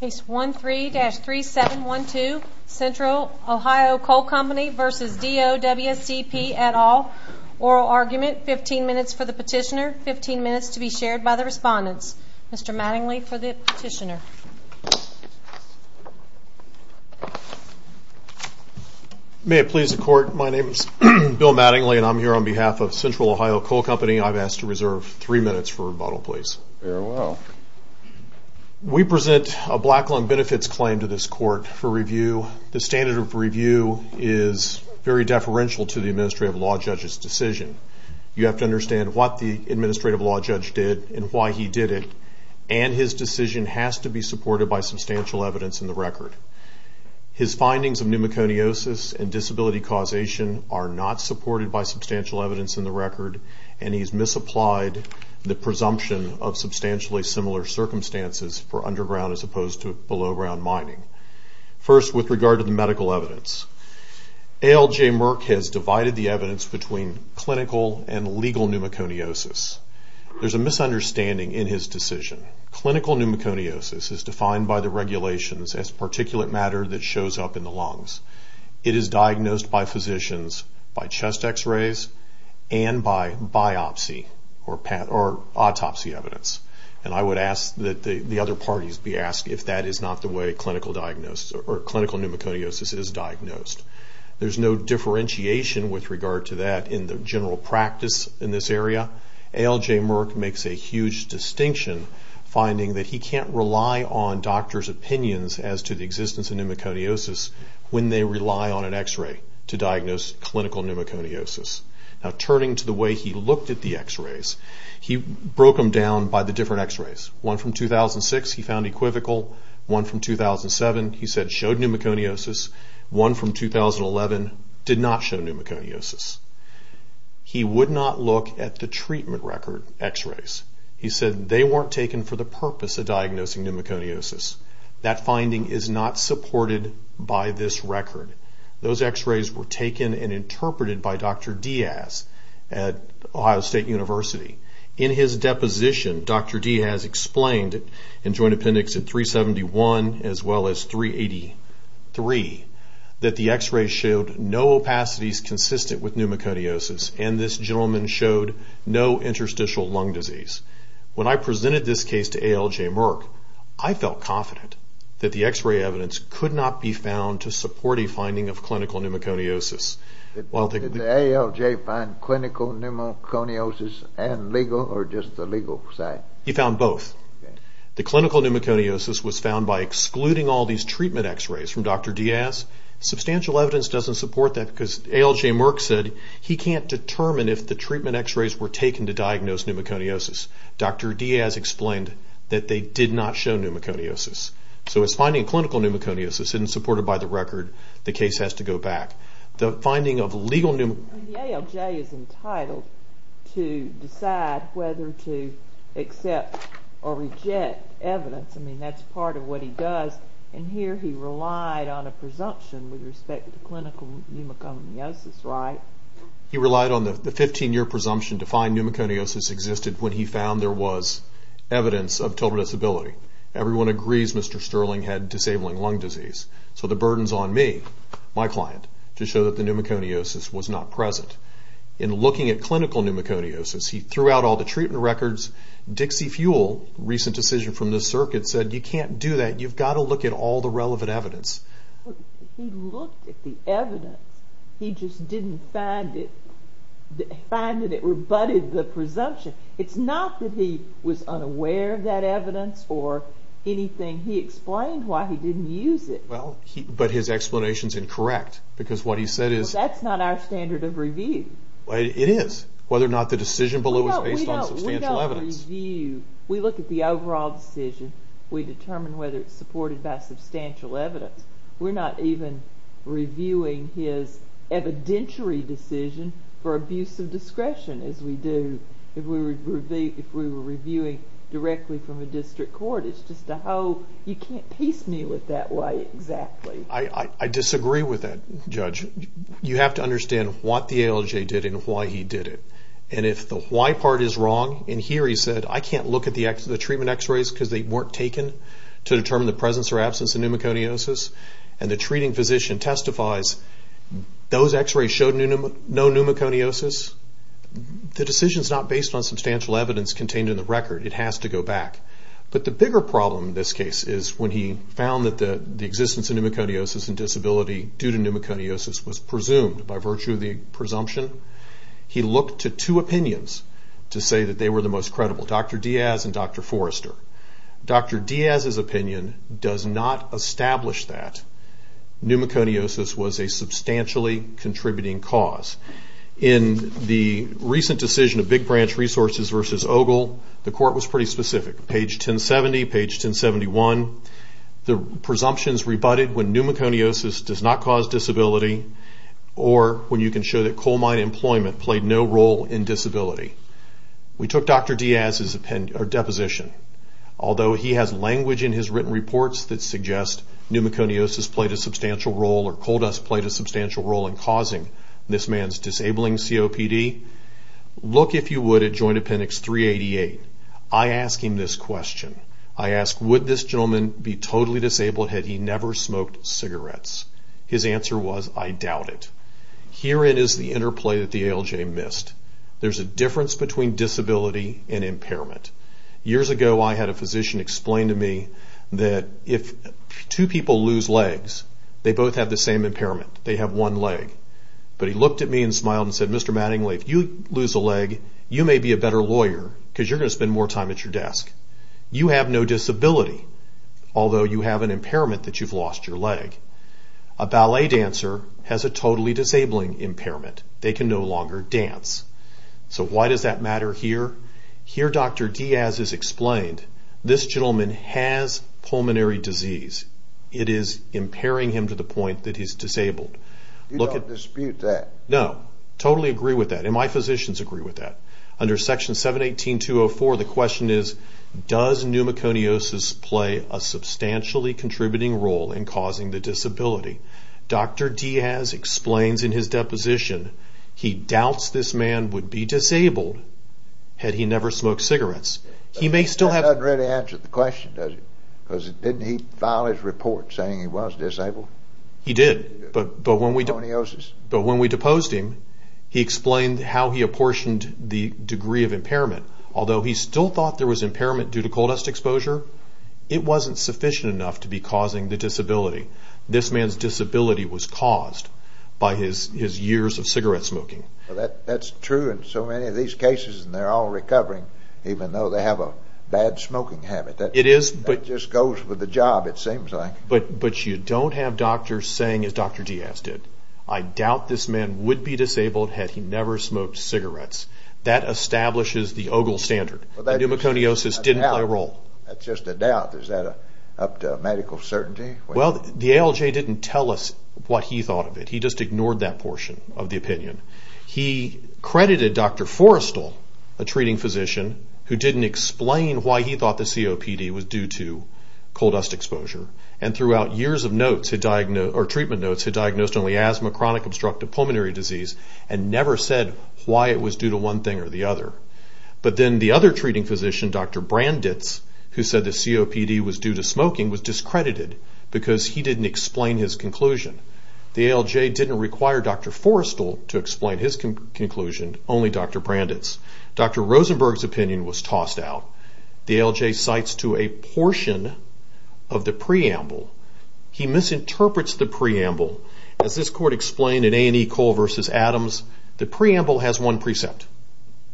Case 13-3712 Central Ohio Coal Company v. DOWCP et al. Oral argument, 15 minutes for the petitioner, 15 minutes to be shared by the respondents. Mr. Mattingly for the petitioner. May it please the court, my name is Bill Mattingly and I'm here on behalf of Central Ohio Coal Company. I've asked to reserve three minutes for rebuttal, please. Very well. We present a black lung benefits claim to this court for review. The standard of review is very deferential to the administrative law judge's decision. You have to understand what the administrative law judge did and why he did it, and his decision has to be supported by substantial evidence in the record. His findings of pneumoconiosis and disability causation are not supported by substantial evidence in the record, and he's misapplied the presumption of substantially similar circumstances for underground as opposed to below ground mining. First, with regard to the medical evidence, ALJ Merck has divided the evidence between clinical and legal pneumoconiosis. There's a misunderstanding in his decision. Clinical pneumoconiosis is defined by the regulations as particulate matter that shows up in the lungs. It is diagnosed by physicians by chest x-rays and by biopsy or autopsy evidence, and I would ask that the other parties be asked if that is not the way clinical pneumoconiosis is diagnosed. There's no differentiation with regard to that in the general practice in this area. ALJ Merck makes a huge distinction finding that he can't rely on doctors' opinions as to the existence of pneumoconiosis when they rely on an x-ray to diagnose clinical pneumoconiosis. Now, turning to the way he looked at the x-rays, he broke them down by the different x-rays. One from 2006 he found equivocal. One from 2007 he said showed pneumoconiosis. One from 2011 did not show pneumoconiosis. He would not look at the treatment record x-rays. He said they weren't taken for the purpose of diagnosing pneumoconiosis. That finding is not supported by this record. Those x-rays were taken and interpreted by Dr. Diaz at Ohio State University. In his deposition, Dr. Diaz explained in Joint Appendix 371 as well as 383 that the x-rays showed no opacities consistent with pneumoconiosis, and this gentleman showed no interstitial lung disease. When I presented this case to A.L.J. Merck, I felt confident that the x-ray evidence could not be found to support a finding of clinical pneumoconiosis. Did A.L.J. find clinical pneumoconiosis and legal or just the legal side? He found both. The clinical pneumoconiosis was found by excluding all these treatment x-rays from Dr. Diaz. Substantial evidence doesn't support that because A.L.J. Merck said he can't determine if the treatment x-rays were taken to diagnose pneumoconiosis. Dr. Diaz explained that they did not show pneumoconiosis. So his finding of clinical pneumoconiosis isn't supported by the record. The case has to go back. The finding of legal pneumoconiosis... A.L.J. is entitled to decide whether to accept or reject evidence. I mean, that's part of what he does. And here he relied on a presumption with respect to clinical pneumoconiosis, right? He relied on the 15-year presumption to find pneumoconiosis existed when he found there was evidence of total disability. Everyone agrees Mr. Sterling had disabling lung disease. So the burden's on me, my client, to show that the pneumoconiosis was not present. In looking at clinical pneumoconiosis, he threw out all the treatment records. Dixie Fuel, a recent decision from this circuit, said you can't do that. You've got to look at all the relevant evidence. He looked at the evidence. He just didn't find it. Finding it rebutted the presumption. It's not that he was unaware of that evidence or anything. He explained why he didn't use it. But his explanation's incorrect. Because what he said is... That's not our standard of review. It is. Whether or not the decision below is based on substantial evidence. We don't review. We look at the overall decision. We determine whether it's supported by substantial evidence. We're not even reviewing his evidentiary decision for abuse of discretion as we do if we were reviewing directly from a district court. It's just a whole... You can't piece me with that way exactly. I disagree with that, Judge. You have to understand what the ALJ did and why he did it. And if the why part is wrong, and here he said, I can't look at the treatment x-rays because they weren't taken to determine the presence or absence of pneumoconiosis, and the treating physician testifies those x-rays showed no pneumoconiosis, the decision's not based on substantial evidence contained in the record. It has to go back. But the bigger problem in this case is when he found that the existence of pneumoconiosis and disability due to pneumoconiosis was presumed by virtue of the presumption, he looked to two opinions to say that they were the most credible, Dr. Diaz and Dr. Forrester. Dr. Diaz's opinion does not establish that pneumoconiosis was a substantially contributing cause. In the recent decision of Big Branch Resources versus Ogle, the court was pretty specific, page 1070, page 1071. The presumptions rebutted when pneumoconiosis does not cause disability or when you can show that coal mine employment played no role in disability. We took Dr. Diaz's deposition. Although he has language in his written reports that suggests pneumoconiosis played a substantial role or coal dust played a substantial role in causing this man's disabling COPD, look, if you would, at Joint Appendix 388. I ask him this question. I ask, would this gentleman be totally disabled had he never smoked cigarettes? His answer was, I doubt it. Herein is the interplay that the ALJ missed. There's a difference between disability and impairment. Years ago, I had a physician explain to me that if two people lose legs, they both have the same impairment. They have one leg. But he looked at me and smiled and said, Mr. Mattingly, if you lose a leg, you may be a better lawyer because you're going to spend more time at your desk. You have no disability, although you have an impairment that you've lost your leg. A ballet dancer has a totally disabling impairment. They can no longer dance. So why does that matter here? Here, Dr. Diaz has explained, this gentleman has pulmonary disease. It is impairing him to the point that he's disabled. You don't dispute that? No, totally agree with that, and my physicians agree with that. Under Section 718.204, the question is, does pneumoconiosis play a substantially contributing role in causing the disability? Dr. Diaz explains in his deposition, he doubts this man would be disabled had he never smoked cigarettes. That doesn't really answer the question, does it? Because didn't he file his report saying he was disabled? He did. Pneumoconiosis. But when we deposed him, he explained how he apportioned the degree of impairment. Although he still thought there was impairment due to coal dust exposure, it wasn't sufficient enough to be causing the disability. This man's disability was caused by his years of cigarette smoking. That's true in so many of these cases, and they're all recovering, even though they have a bad smoking habit. It is. That just goes with the job, it seems like. But you don't have doctors saying, as Dr. Diaz did, I doubt this man would be disabled had he never smoked cigarettes. That establishes the Ogle standard. Pneumoconiosis didn't play a role. That's just a doubt. Is that up to medical certainty? Well, the ALJ didn't tell us what he thought of it. He just ignored that portion of the opinion. He credited Dr. Forrestal, a treating physician, who didn't explain why he thought the COPD was due to coal dust exposure, and throughout years of treatment notes, had diagnosed only asthma, chronic obstructive pulmonary disease, and never said why it was due to one thing or the other. But then the other treating physician, Dr. Branditz, who said the COPD was due to smoking, was discredited because he didn't explain his conclusion. The ALJ didn't require Dr. Forrestal to explain his conclusion, only Dr. Branditz. Dr. Rosenberg's opinion was tossed out. The ALJ cites to a portion of the preamble. He misinterprets the preamble. As this court explained in A&E Coal v. Adams, the preamble has one precept.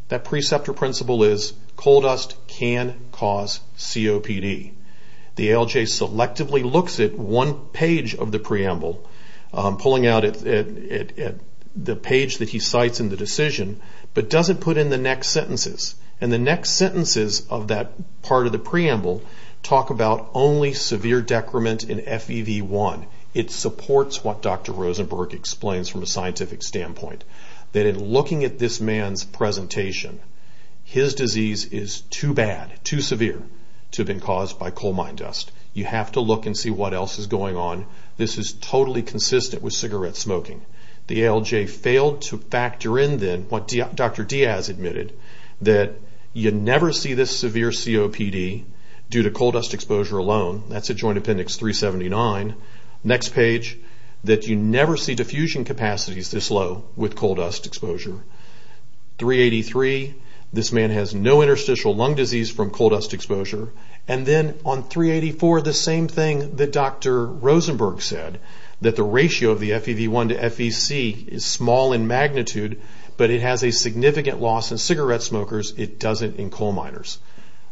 That precept or principle is coal dust can cause COPD. The ALJ selectively looks at one page of the preamble, pulling out the page that he cites in the decision, but doesn't put in the next sentences. And the next sentences of that part of the preamble talk about only severe decrement in FEV1. It supports what Dr. Rosenberg explains from a scientific standpoint, that in looking at this man's presentation, his disease is too bad, too severe, to have been caused by coal mine dust. You have to look and see what else is going on. This is totally consistent with cigarette smoking. The ALJ failed to factor in then what Dr. Diaz admitted, that you never see this severe COPD due to coal dust exposure alone. That's at Joint Appendix 379. Next page, that you never see diffusion capacities this low with coal dust exposure. 383, this man has no interstitial lung disease from coal dust exposure. And then on 384, the same thing that Dr. Rosenberg said, that the ratio of the FEV1 to FEC is small in magnitude, but it has a significant loss in cigarette smokers, it doesn't in coal miners.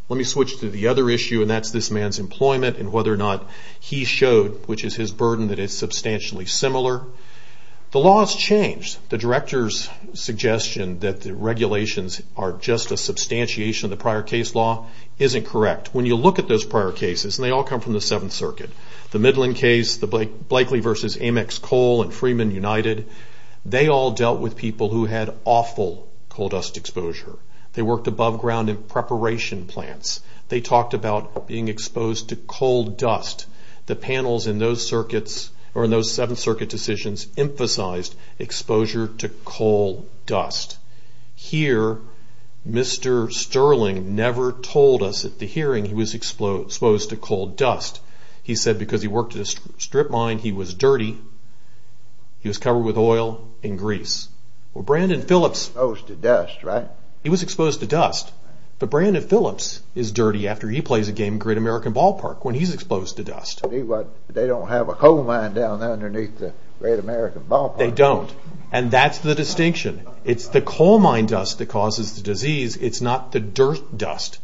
Let me switch to the other issue, and that's this man's employment, and whether or not he showed, which is his burden, that it's substantially similar. The law has changed. The director's suggestion that the regulations are just a substantiation of the prior case law, isn't correct. When you look at those prior cases, and they all come from the 7th Circuit, the Midland case, the Blakely v. Amex Coal and Freeman United, they all dealt with people who had awful coal dust exposure. They worked above ground in preparation plants. They talked about being exposed to coal dust. The panels in those circuits, or in those 7th Circuit decisions, emphasized exposure to coal dust. Here, Mr. Sterling never told us at the hearing he was exposed to coal dust. He said because he worked at a strip mine, he was dirty, he was covered with oil and grease. He was exposed to dust, right? He was exposed to dust, but Brandon Phillips is dirty after he plays a game of Great American Ballpark when he's exposed to dust. They don't have a coal mine down there underneath the Great American Ballpark. They don't, and that's the distinction. It's the coal mine dust that causes the disease. It's not the dirt dust.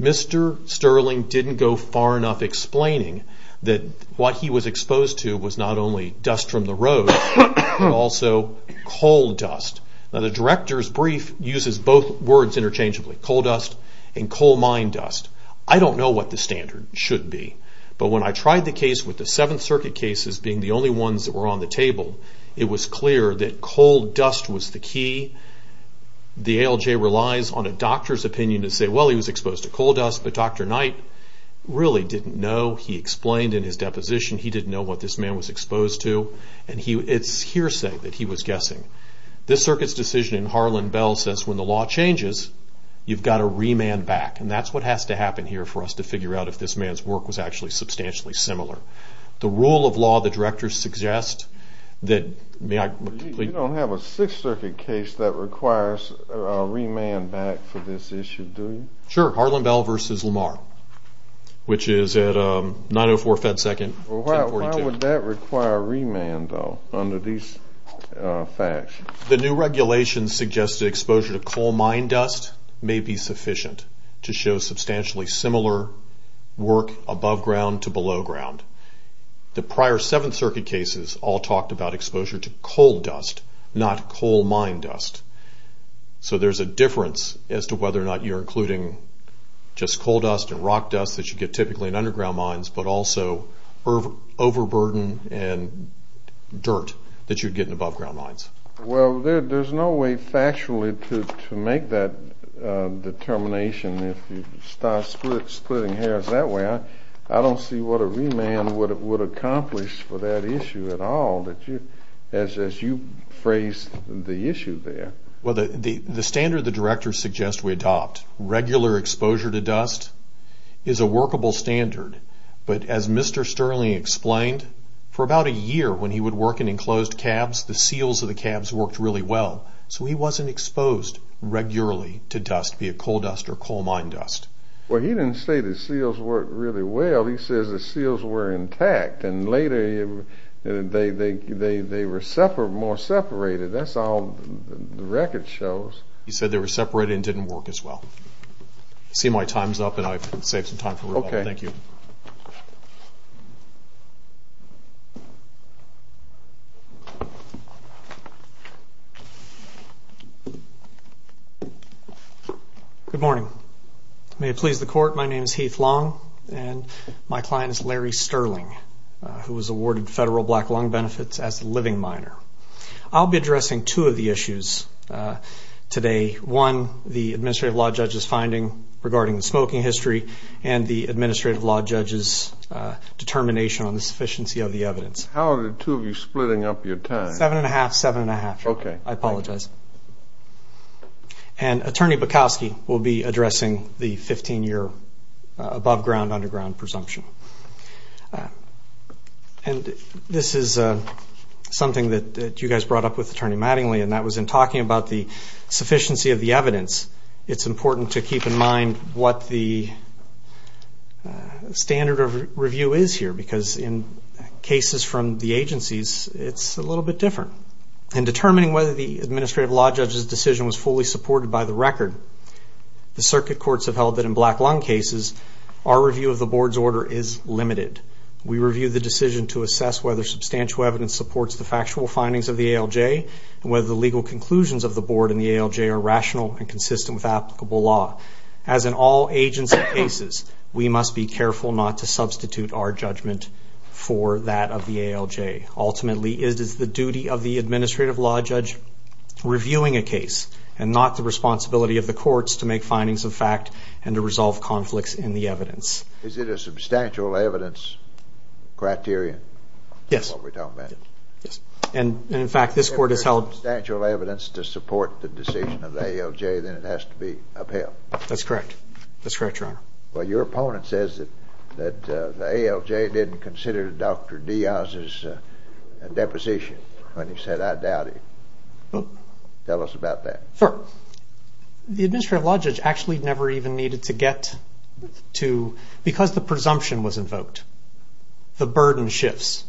Mr. Sterling didn't go far enough explaining that what he was exposed to was not only dust from the road, but also coal dust. The director's brief uses both words interchangeably, coal dust and coal mine dust. I don't know what the standard should be, but when I tried the case with the 7th Circuit cases being the only ones that were on the table, it was clear that coal dust was the key. The ALJ relies on a doctor's opinion to say, well, he was exposed to coal dust, but Dr. Knight really didn't know. He explained in his deposition he didn't know what this man was exposed to, and it's hearsay that he was guessing. This circuit's decision in Harlan Bell says when the law changes, you've got to remand back, and that's what has to happen here for us to figure out if this man's work was actually substantially similar. The rule of law the directors suggest that... You don't have a 6th Circuit case that requires a remand back for this issue, do you? Sure, Harlan Bell v. Lamar, which is at 904 FedSecond 1042. Why would that require remand, though, under these facts? The new regulations suggest that exposure to coal mine dust may be sufficient to show substantially similar work above ground to below ground. The prior 7th Circuit cases all talked about exposure to coal dust, not coal mine dust. So there's a difference as to whether or not you're including just coal dust and rock dust that you get typically in underground mines, but also overburden and dirt that you'd get in above ground mines. Well, there's no way factually to make that determination. If you start splitting hairs that way, I don't see what a remand would accomplish for that issue at all, as you phrased the issue there. Well, the standard the directors suggest we adopt, regular exposure to dust, is a workable standard. But as Mr. Sterling explained, for about a year when he would work in enclosed cabs, the seals of the cabs worked really well, so he wasn't exposed regularly to dust, be it coal dust or coal mine dust. Well, he didn't say the seals worked really well. Well, he says the seals were intact, and later they were more separated. That's all the record shows. He said they were separated and didn't work as well. I see my time's up, and I've saved some time for rebuttal. Okay. Thank you. Good morning. May it please the Court, my name is Heath Long, and my client is Larry Sterling, who was awarded federal black lung benefits as a living minor. I'll be addressing two of the issues today. One, the administrative law judge's finding regarding the smoking history and the administrative law judge's determination on the sufficiency of the evidence. How are the two of you splitting up your time? Seven and a half, seven and a half. Okay. I apologize. And Attorney Bukowski will be addressing the 15-year above-ground, underground presumption. And this is something that you guys brought up with Attorney Mattingly, and that was in talking about the sufficiency of the evidence, it's important to keep in mind what the standard of review is here, because in cases from the agencies, it's a little bit different. In determining whether the administrative law judge's decision was fully supported by the record, the circuit courts have held that in black lung cases, our review of the Board's order is limited. We review the decision to assess whether substantial evidence supports the factual findings of the ALJ and whether the legal conclusions of the Board and the ALJ are rational and consistent with applicable law. As in all agency cases, we must be careful not to substitute our judgment for that of the ALJ. Ultimately, it is the duty of the administrative law judge reviewing a case and not the responsibility of the courts to make findings of fact and to resolve conflicts in the evidence. Is it a substantial evidence criterion? Yes. That's what we're talking about. Yes. And, in fact, this Court has held... If there's substantial evidence to support the decision of the ALJ, then it has to be upheld. That's correct. That's correct, Your Honor. Well, your opponent says that the ALJ didn't consider Dr. Diaz's deposition when he said, I doubt it. Tell us about that. Sure. The administrative law judge actually never even needed to get to... Because the presumption was invoked, the burden shifts.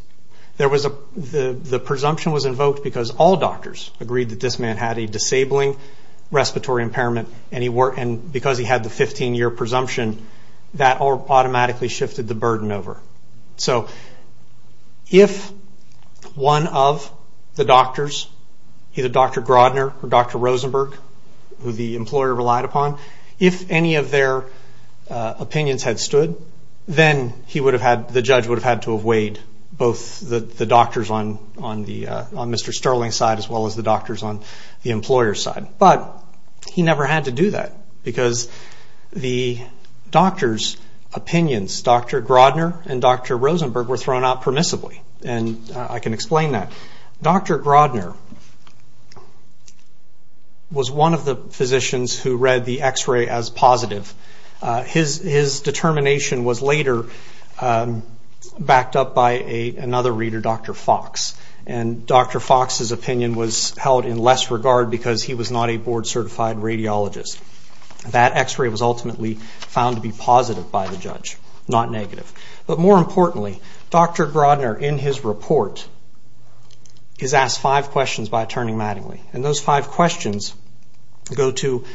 The presumption was invoked because all doctors agreed that this man had a disabling respiratory impairment and because he had the 15-year presumption, that automatically shifted the burden over. So if one of the doctors, either Dr. Grodner or Dr. Rosenberg, who the employer relied upon, if any of their opinions had stood, then the judge would have had to have weighed both the doctors on Mr. Sterling's side as well as the doctors on the employer's side. But he never had to do that because the doctors' opinions, Dr. Grodner and Dr. Rosenberg, were thrown out permissibly, and I can explain that. Dr. Grodner was one of the physicians who read the X-ray as positive. His determination was later backed up by another reader, Dr. Fox, and Dr. Fox's opinion was held in less regard because he was not a board-certified radiologist. That X-ray was ultimately found to be positive by the judge, not negative. But more importantly, Dr. Grodner, in his report, is asked five questions by Attorney Mattingly, and those five questions go to,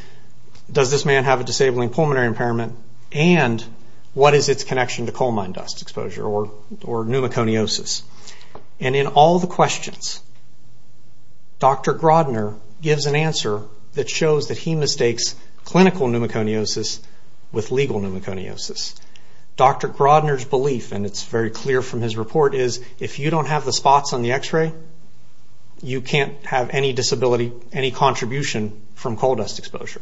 does this man have a disabling pulmonary impairment and what is its connection to coal mine dust exposure or pneumoconiosis? And in all the questions, Dr. Grodner gives an answer that shows that he mistakes clinical pneumoconiosis with legal pneumoconiosis. Dr. Grodner's belief, and it's very clear from his report, is if you don't have the spots on the X-ray, you can't have any disability, any contribution from coal dust exposure.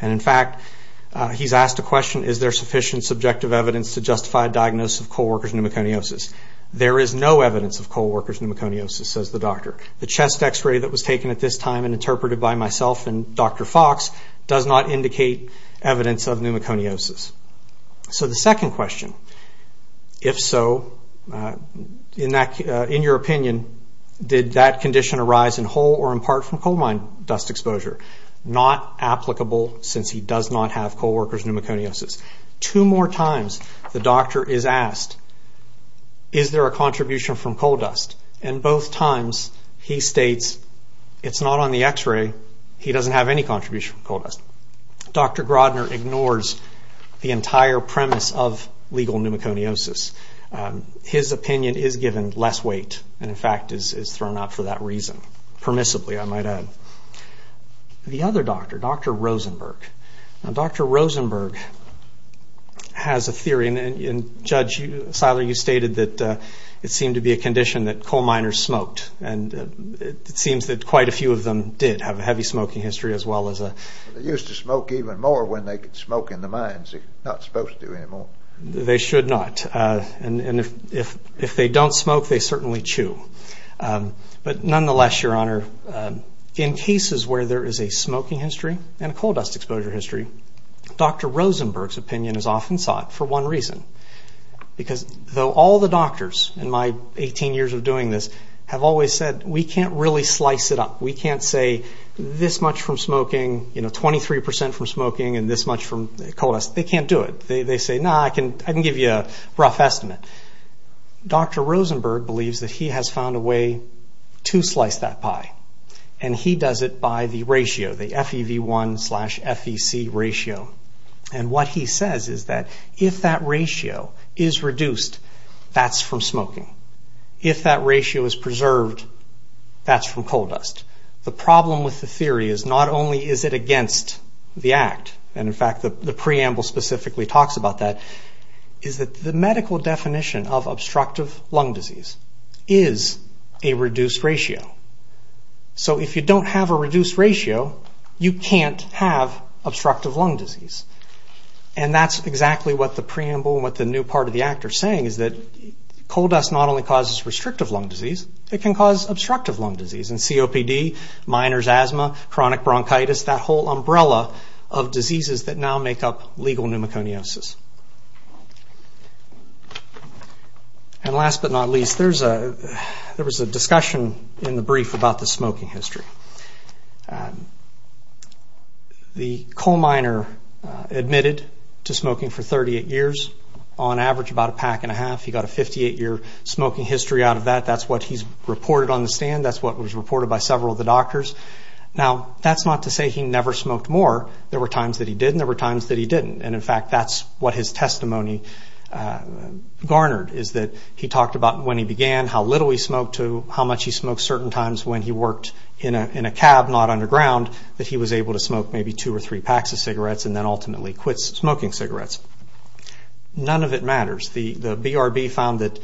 And is there sufficient subjective evidence to justify a diagnosis of coal worker's pneumoconiosis? There is no evidence of coal worker's pneumoconiosis, says the doctor. The chest X-ray that was taken at this time and interpreted by myself and Dr. Fox does not indicate evidence of pneumoconiosis. So the second question, if so, in your opinion, did that condition arise in whole or in part from coal mine dust exposure? Not applicable since he does not have coal worker's pneumoconiosis. Two more times the doctor is asked, is there a contribution from coal dust? And both times he states it's not on the X-ray, he doesn't have any contribution from coal dust. Dr. Grodner ignores the entire premise of legal pneumoconiosis. His opinion is given less weight and in fact is thrown out for that reason, permissibly I might add. The other doctor, Dr. Rosenberg. Now Dr. Rosenberg has a theory and Judge Seiler, you stated that it seemed to be a condition that coal miners smoked and it seems that quite a few of them did have a heavy smoking history as well as a... They used to smoke even more when they could smoke in the mines. They should not. And if they don't smoke, they certainly chew. But nonetheless, Your Honor, in cases where there is a smoking history and coal dust exposure history, Dr. Rosenberg's opinion is often sought for one reason. Because though all the doctors in my 18 years of doing this have always said we can't really slice it up. We can't say this much from smoking, 23% from smoking and this much from coal dust. They can't do it. They say, no, I can give you a rough estimate. Dr. Rosenberg believes that he has found a way to slice that pie. And he does it by the ratio, the FEV1 slash FEC ratio. And what he says is that if that ratio is reduced, that's from smoking. If that ratio is preserved, that's from coal dust. The problem with the theory is not only is it against the Act, and in fact the preamble specifically talks about that, is that the medical definition of obstructive lung disease is a reduced ratio. So if you don't have a reduced ratio, you can't have obstructive lung disease. And that's exactly what the preamble and what the new part of the Act are saying, is that coal dust not only causes restrictive lung disease, it can cause obstructive lung disease. And COPD, miners' asthma, chronic bronchitis, that whole umbrella of diseases that now make up legal pneumoconiosis. And last but not least, there was a discussion in the brief about the smoking history. The coal miner admitted to smoking for 38 years. On average, about a pack and a half. He got a 58-year smoking history out of that. That's what he's reported on the stand. That's what was reported by several of the doctors. Now, that's not to say he never smoked more. There were times that he did, and there were times that he didn't. And in fact, that's what his testimony garnered, is that he talked about when he began, how little he smoked, to how much he smoked certain times when he worked in a cab, not underground, that he was able to smoke maybe two or three packs of cigarettes, and then ultimately quit smoking cigarettes. None of it matters. The BRB found that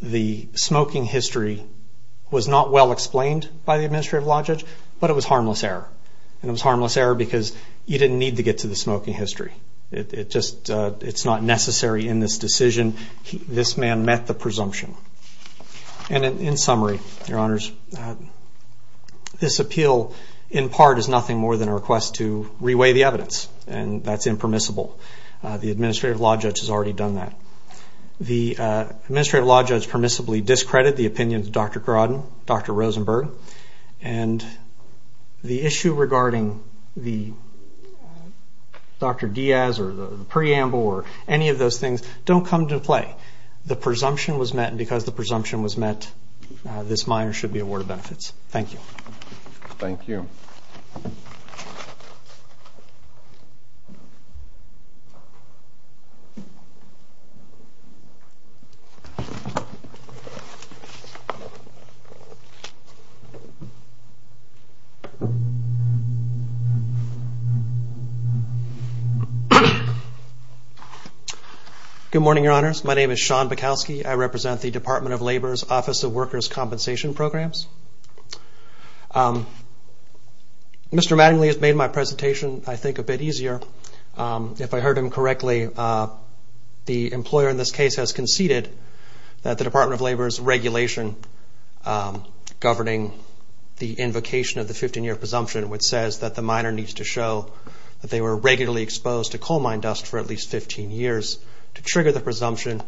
the smoking history was not well explained by the administrative logic, but it was harmless error. And it was harmless error because you didn't need to get to the smoking history. It's not necessary in this decision. This man met the presumption. And in summary, Your Honors, this appeal in part is nothing more than a request to reweigh the evidence, and that's impermissible. The administrative law judge has already done that. The administrative law judge permissibly discredited the opinions of Dr. Grodin, Dr. Rosenberg, and the issue regarding Dr. Diaz or the preamble or any of those things don't come to play. The presumption was met, and because the presumption was met, this minor should be awarded benefits. Thank you. Thank you. Good morning, Your Honors. My name is Sean Bukowski. I represent the Department of Labor's Office of Workers' Compensation Programs. Mr. Mattingly has made my presentation, I think, a bit easier. If I heard him correctly, the employer in this case has conceded that the Department of Labor's regulation governing the invocation of the 15-year presumption, which says that the minor needs to show that they were regularly exposed to coal mine dust for at least 15 years to trigger the presumption,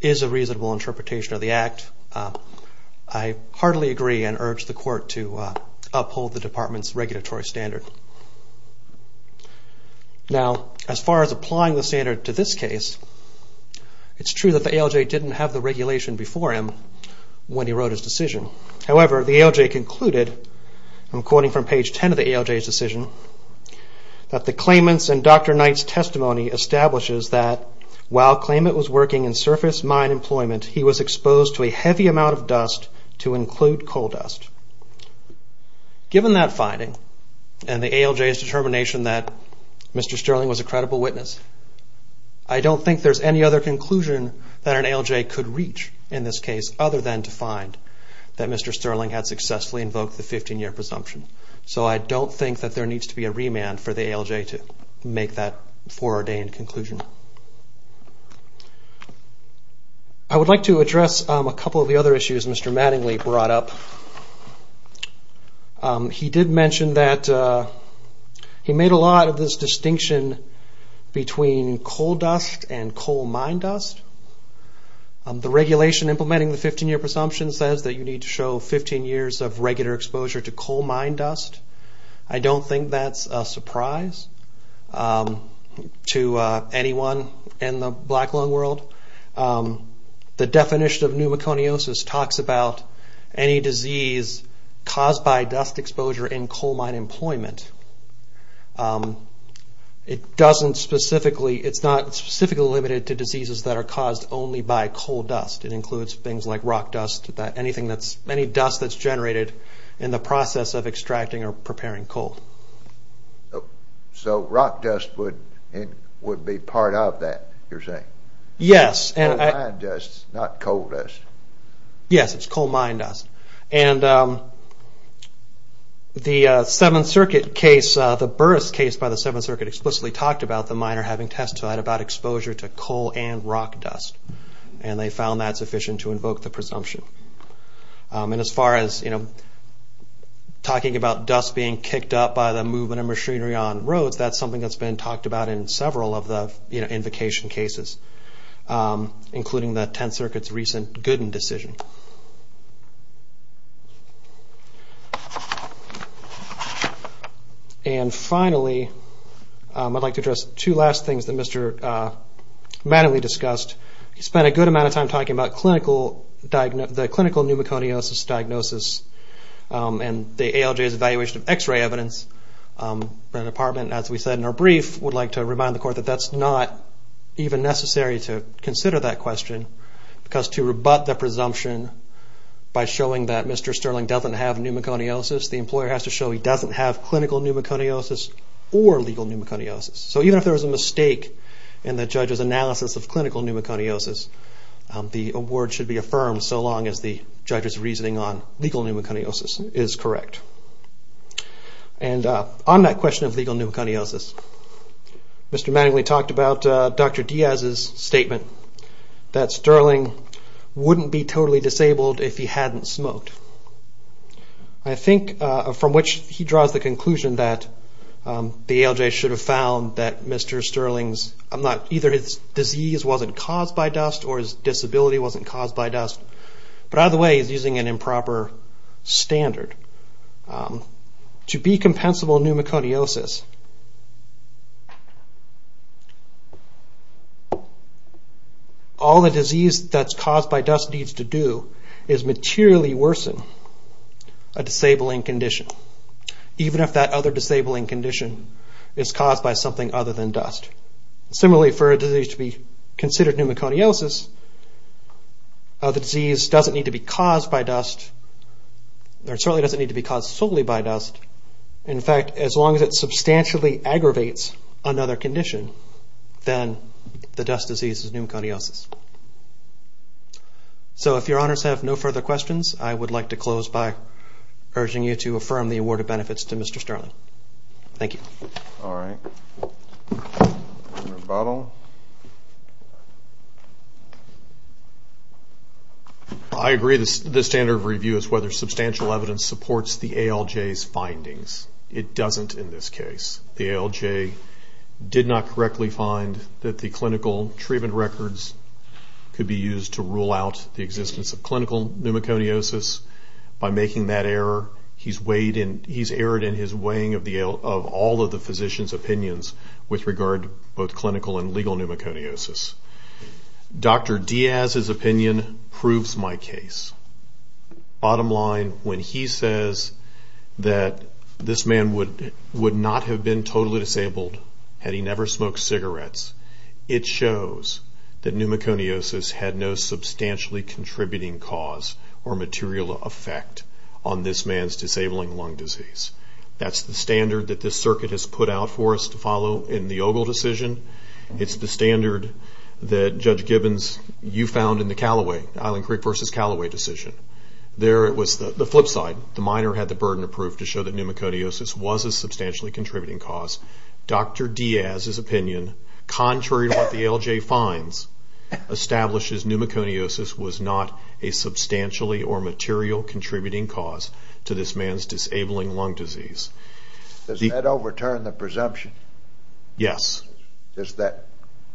is a reasonable interpretation of the Act. I heartily agree and urge the Court to uphold the Department's regulatory standard. Now, as far as applying the standard to this case, it's true that the ALJ didn't have the regulation before him when he wrote his decision. However, the ALJ concluded, I'm quoting from page 10 of the ALJ's decision, that the claimant's and Dr. Knight's testimony establishes that while the claimant was working in surface mine employment, he was exposed to a heavy amount of dust to include coal dust. Given that finding and the ALJ's determination that Mr. Sterling was a credible witness, I don't think there's any other conclusion that an ALJ could reach in this case other than to find that Mr. Sterling had successfully invoked the 15-year presumption. So I don't think that there needs to be a remand for the ALJ to make that foreordained conclusion. I would like to address a couple of the other issues Mr. Mattingly brought up. He did mention that he made a lot of this distinction between coal dust and coal mine dust. The regulation implementing the 15-year presumption says that you need to show 15 years of regular exposure to coal mine dust. I don't think that's a surprise to anyone in the black lung world. The definition of pneumoconiosis talks about any disease caused by dust exposure in coal mine employment. It's not specifically limited to diseases that are caused only by coal dust. It includes things like rock dust, any dust that's generated in the process of extracting or preparing coal. So rock dust would be part of that, you're saying? Yes. Coal mine dust, not coal dust. Yes, it's coal mine dust. And the 7th Circuit case, the Burris case by the 7th Circuit, explicitly talked about the miner having testified about exposure to coal and rock dust. And they found that sufficient to invoke the presumption. And as far as talking about dust being kicked up by the movement of machinery on roads, that's something that's been talked about in several of the invocation cases, including the 10th Circuit's recent Gooden decision. And finally, I'd like to address two last things that Mr. Mattingly discussed. He spent a good amount of time talking about the clinical pneumoconiosis diagnosis and the ALJ's evaluation of X-ray evidence. The Department, as we said in our brief, would like to remind the Court that that's not even necessary to consider that question because to rebut the presumption by showing that Mr. Sterling doesn't have pneumoconiosis, the employer has to show he doesn't have clinical pneumoconiosis or legal pneumoconiosis. So even if there was a mistake in the judge's analysis of clinical pneumoconiosis, the award should be affirmed so long as the judge's reasoning on legal pneumoconiosis is correct. And on that question of legal pneumoconiosis, Mr. Mattingly talked about Dr. Diaz's statement that Sterling wouldn't be totally disabled if he hadn't smoked. I think from which he draws the conclusion that the ALJ should have found that Mr. Sterling's, either his disease wasn't caused by dust or his disability wasn't caused by dust, but either way he's using an improper standard. To be compensable pneumoconiosis, all the disease that's caused by dust needs to do is materially worsen a disabling condition, even if that other disabling condition is caused by something other than dust. Similarly, for a disease to be considered pneumoconiosis, the disease doesn't need to be caused solely by dust. In fact, as long as it substantially aggravates another condition, then the dust disease is pneumoconiosis. So if your honors have no further questions, I would like to close by urging you to affirm the award of benefits to Mr. Sterling. Thank you. All right. Rebuttal. I agree the standard of review is whether substantial evidence supports the ALJ's findings. It doesn't in this case. The ALJ did not correctly find that the clinical treatment records could be used to rule out the existence of clinical pneumoconiosis. By making that error, he's erred in his weighing of all of the physician's opinions with regard to both clinical and legal pneumoconiosis. Dr. Diaz's opinion proves my case. Bottom line, when he says that this man would not have been totally disabled had he never smoked cigarettes, it shows that pneumoconiosis had no substantially contributing cause or material effect on this man's disabling lung disease. That's the standard that this circuit has put out for us to follow in the Ogle decision. It's the standard that Judge Gibbons, you found in the Callaway, Island Creek versus Callaway decision. There it was the flip side. The minor had the burden of proof to show that pneumoconiosis was a substantially contributing cause. Dr. Diaz's opinion, contrary to what the ALJ finds, establishes pneumoconiosis was not a substantially or material contributing cause to this man's disabling lung disease. Does that overturn the presumption? Yes.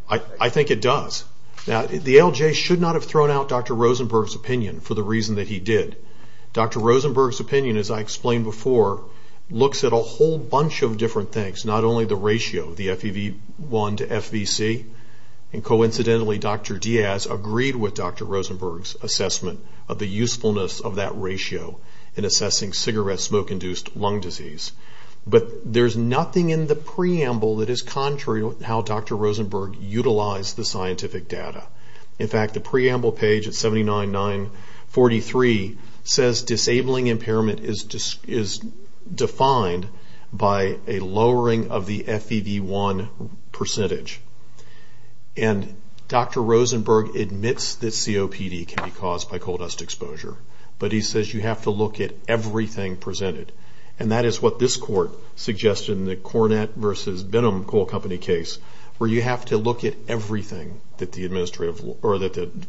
I think it does. The ALJ should not have thrown out Dr. Rosenberg's opinion for the reason that he did. Dr. Rosenberg's opinion, as I explained before, looks at a whole bunch of different things, not only the ratio, the FEV1 to FVC. Coincidentally, Dr. Diaz agreed with Dr. Rosenberg's assessment of the usefulness of that ratio in assessing cigarette smoke-induced lung disease. But there's nothing in the preamble that is contrary to how Dr. Rosenberg utilized the scientific data. In fact, the preamble page at 79943 says disabling impairment is defined by a lowering of the FEV1 percentage. And Dr. Rosenberg admits that COPD can be caused by coal dust exposure, but he says you have to look at everything presented. And that is what this court suggested in the Cornett v. Benham Coal Company case, where you have to look at everything that the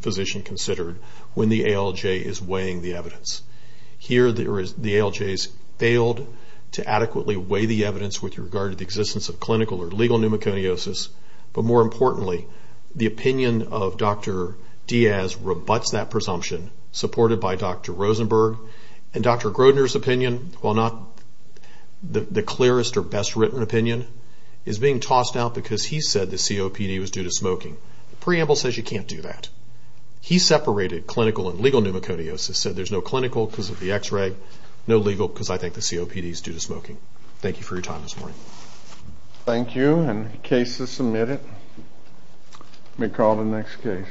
physician considered when the ALJ is weighing the evidence. Here, the ALJ has failed to adequately weigh the evidence with regard to the existence of clinical or legal pneumoconiosis. But more importantly, the opinion of Dr. Diaz rebuts that presumption, supported by Dr. Rosenberg. And Dr. Grodner's opinion, while not the clearest or best-written opinion, is being tossed out because he said the COPD was due to smoking. The preamble says you can't do that. He separated clinical and legal pneumoconiosis, said there's no clinical because of the X-ray, no legal because I think the COPD is due to smoking. Thank you for your time this morning. Thank you, and the case is submitted. Let me call the next case.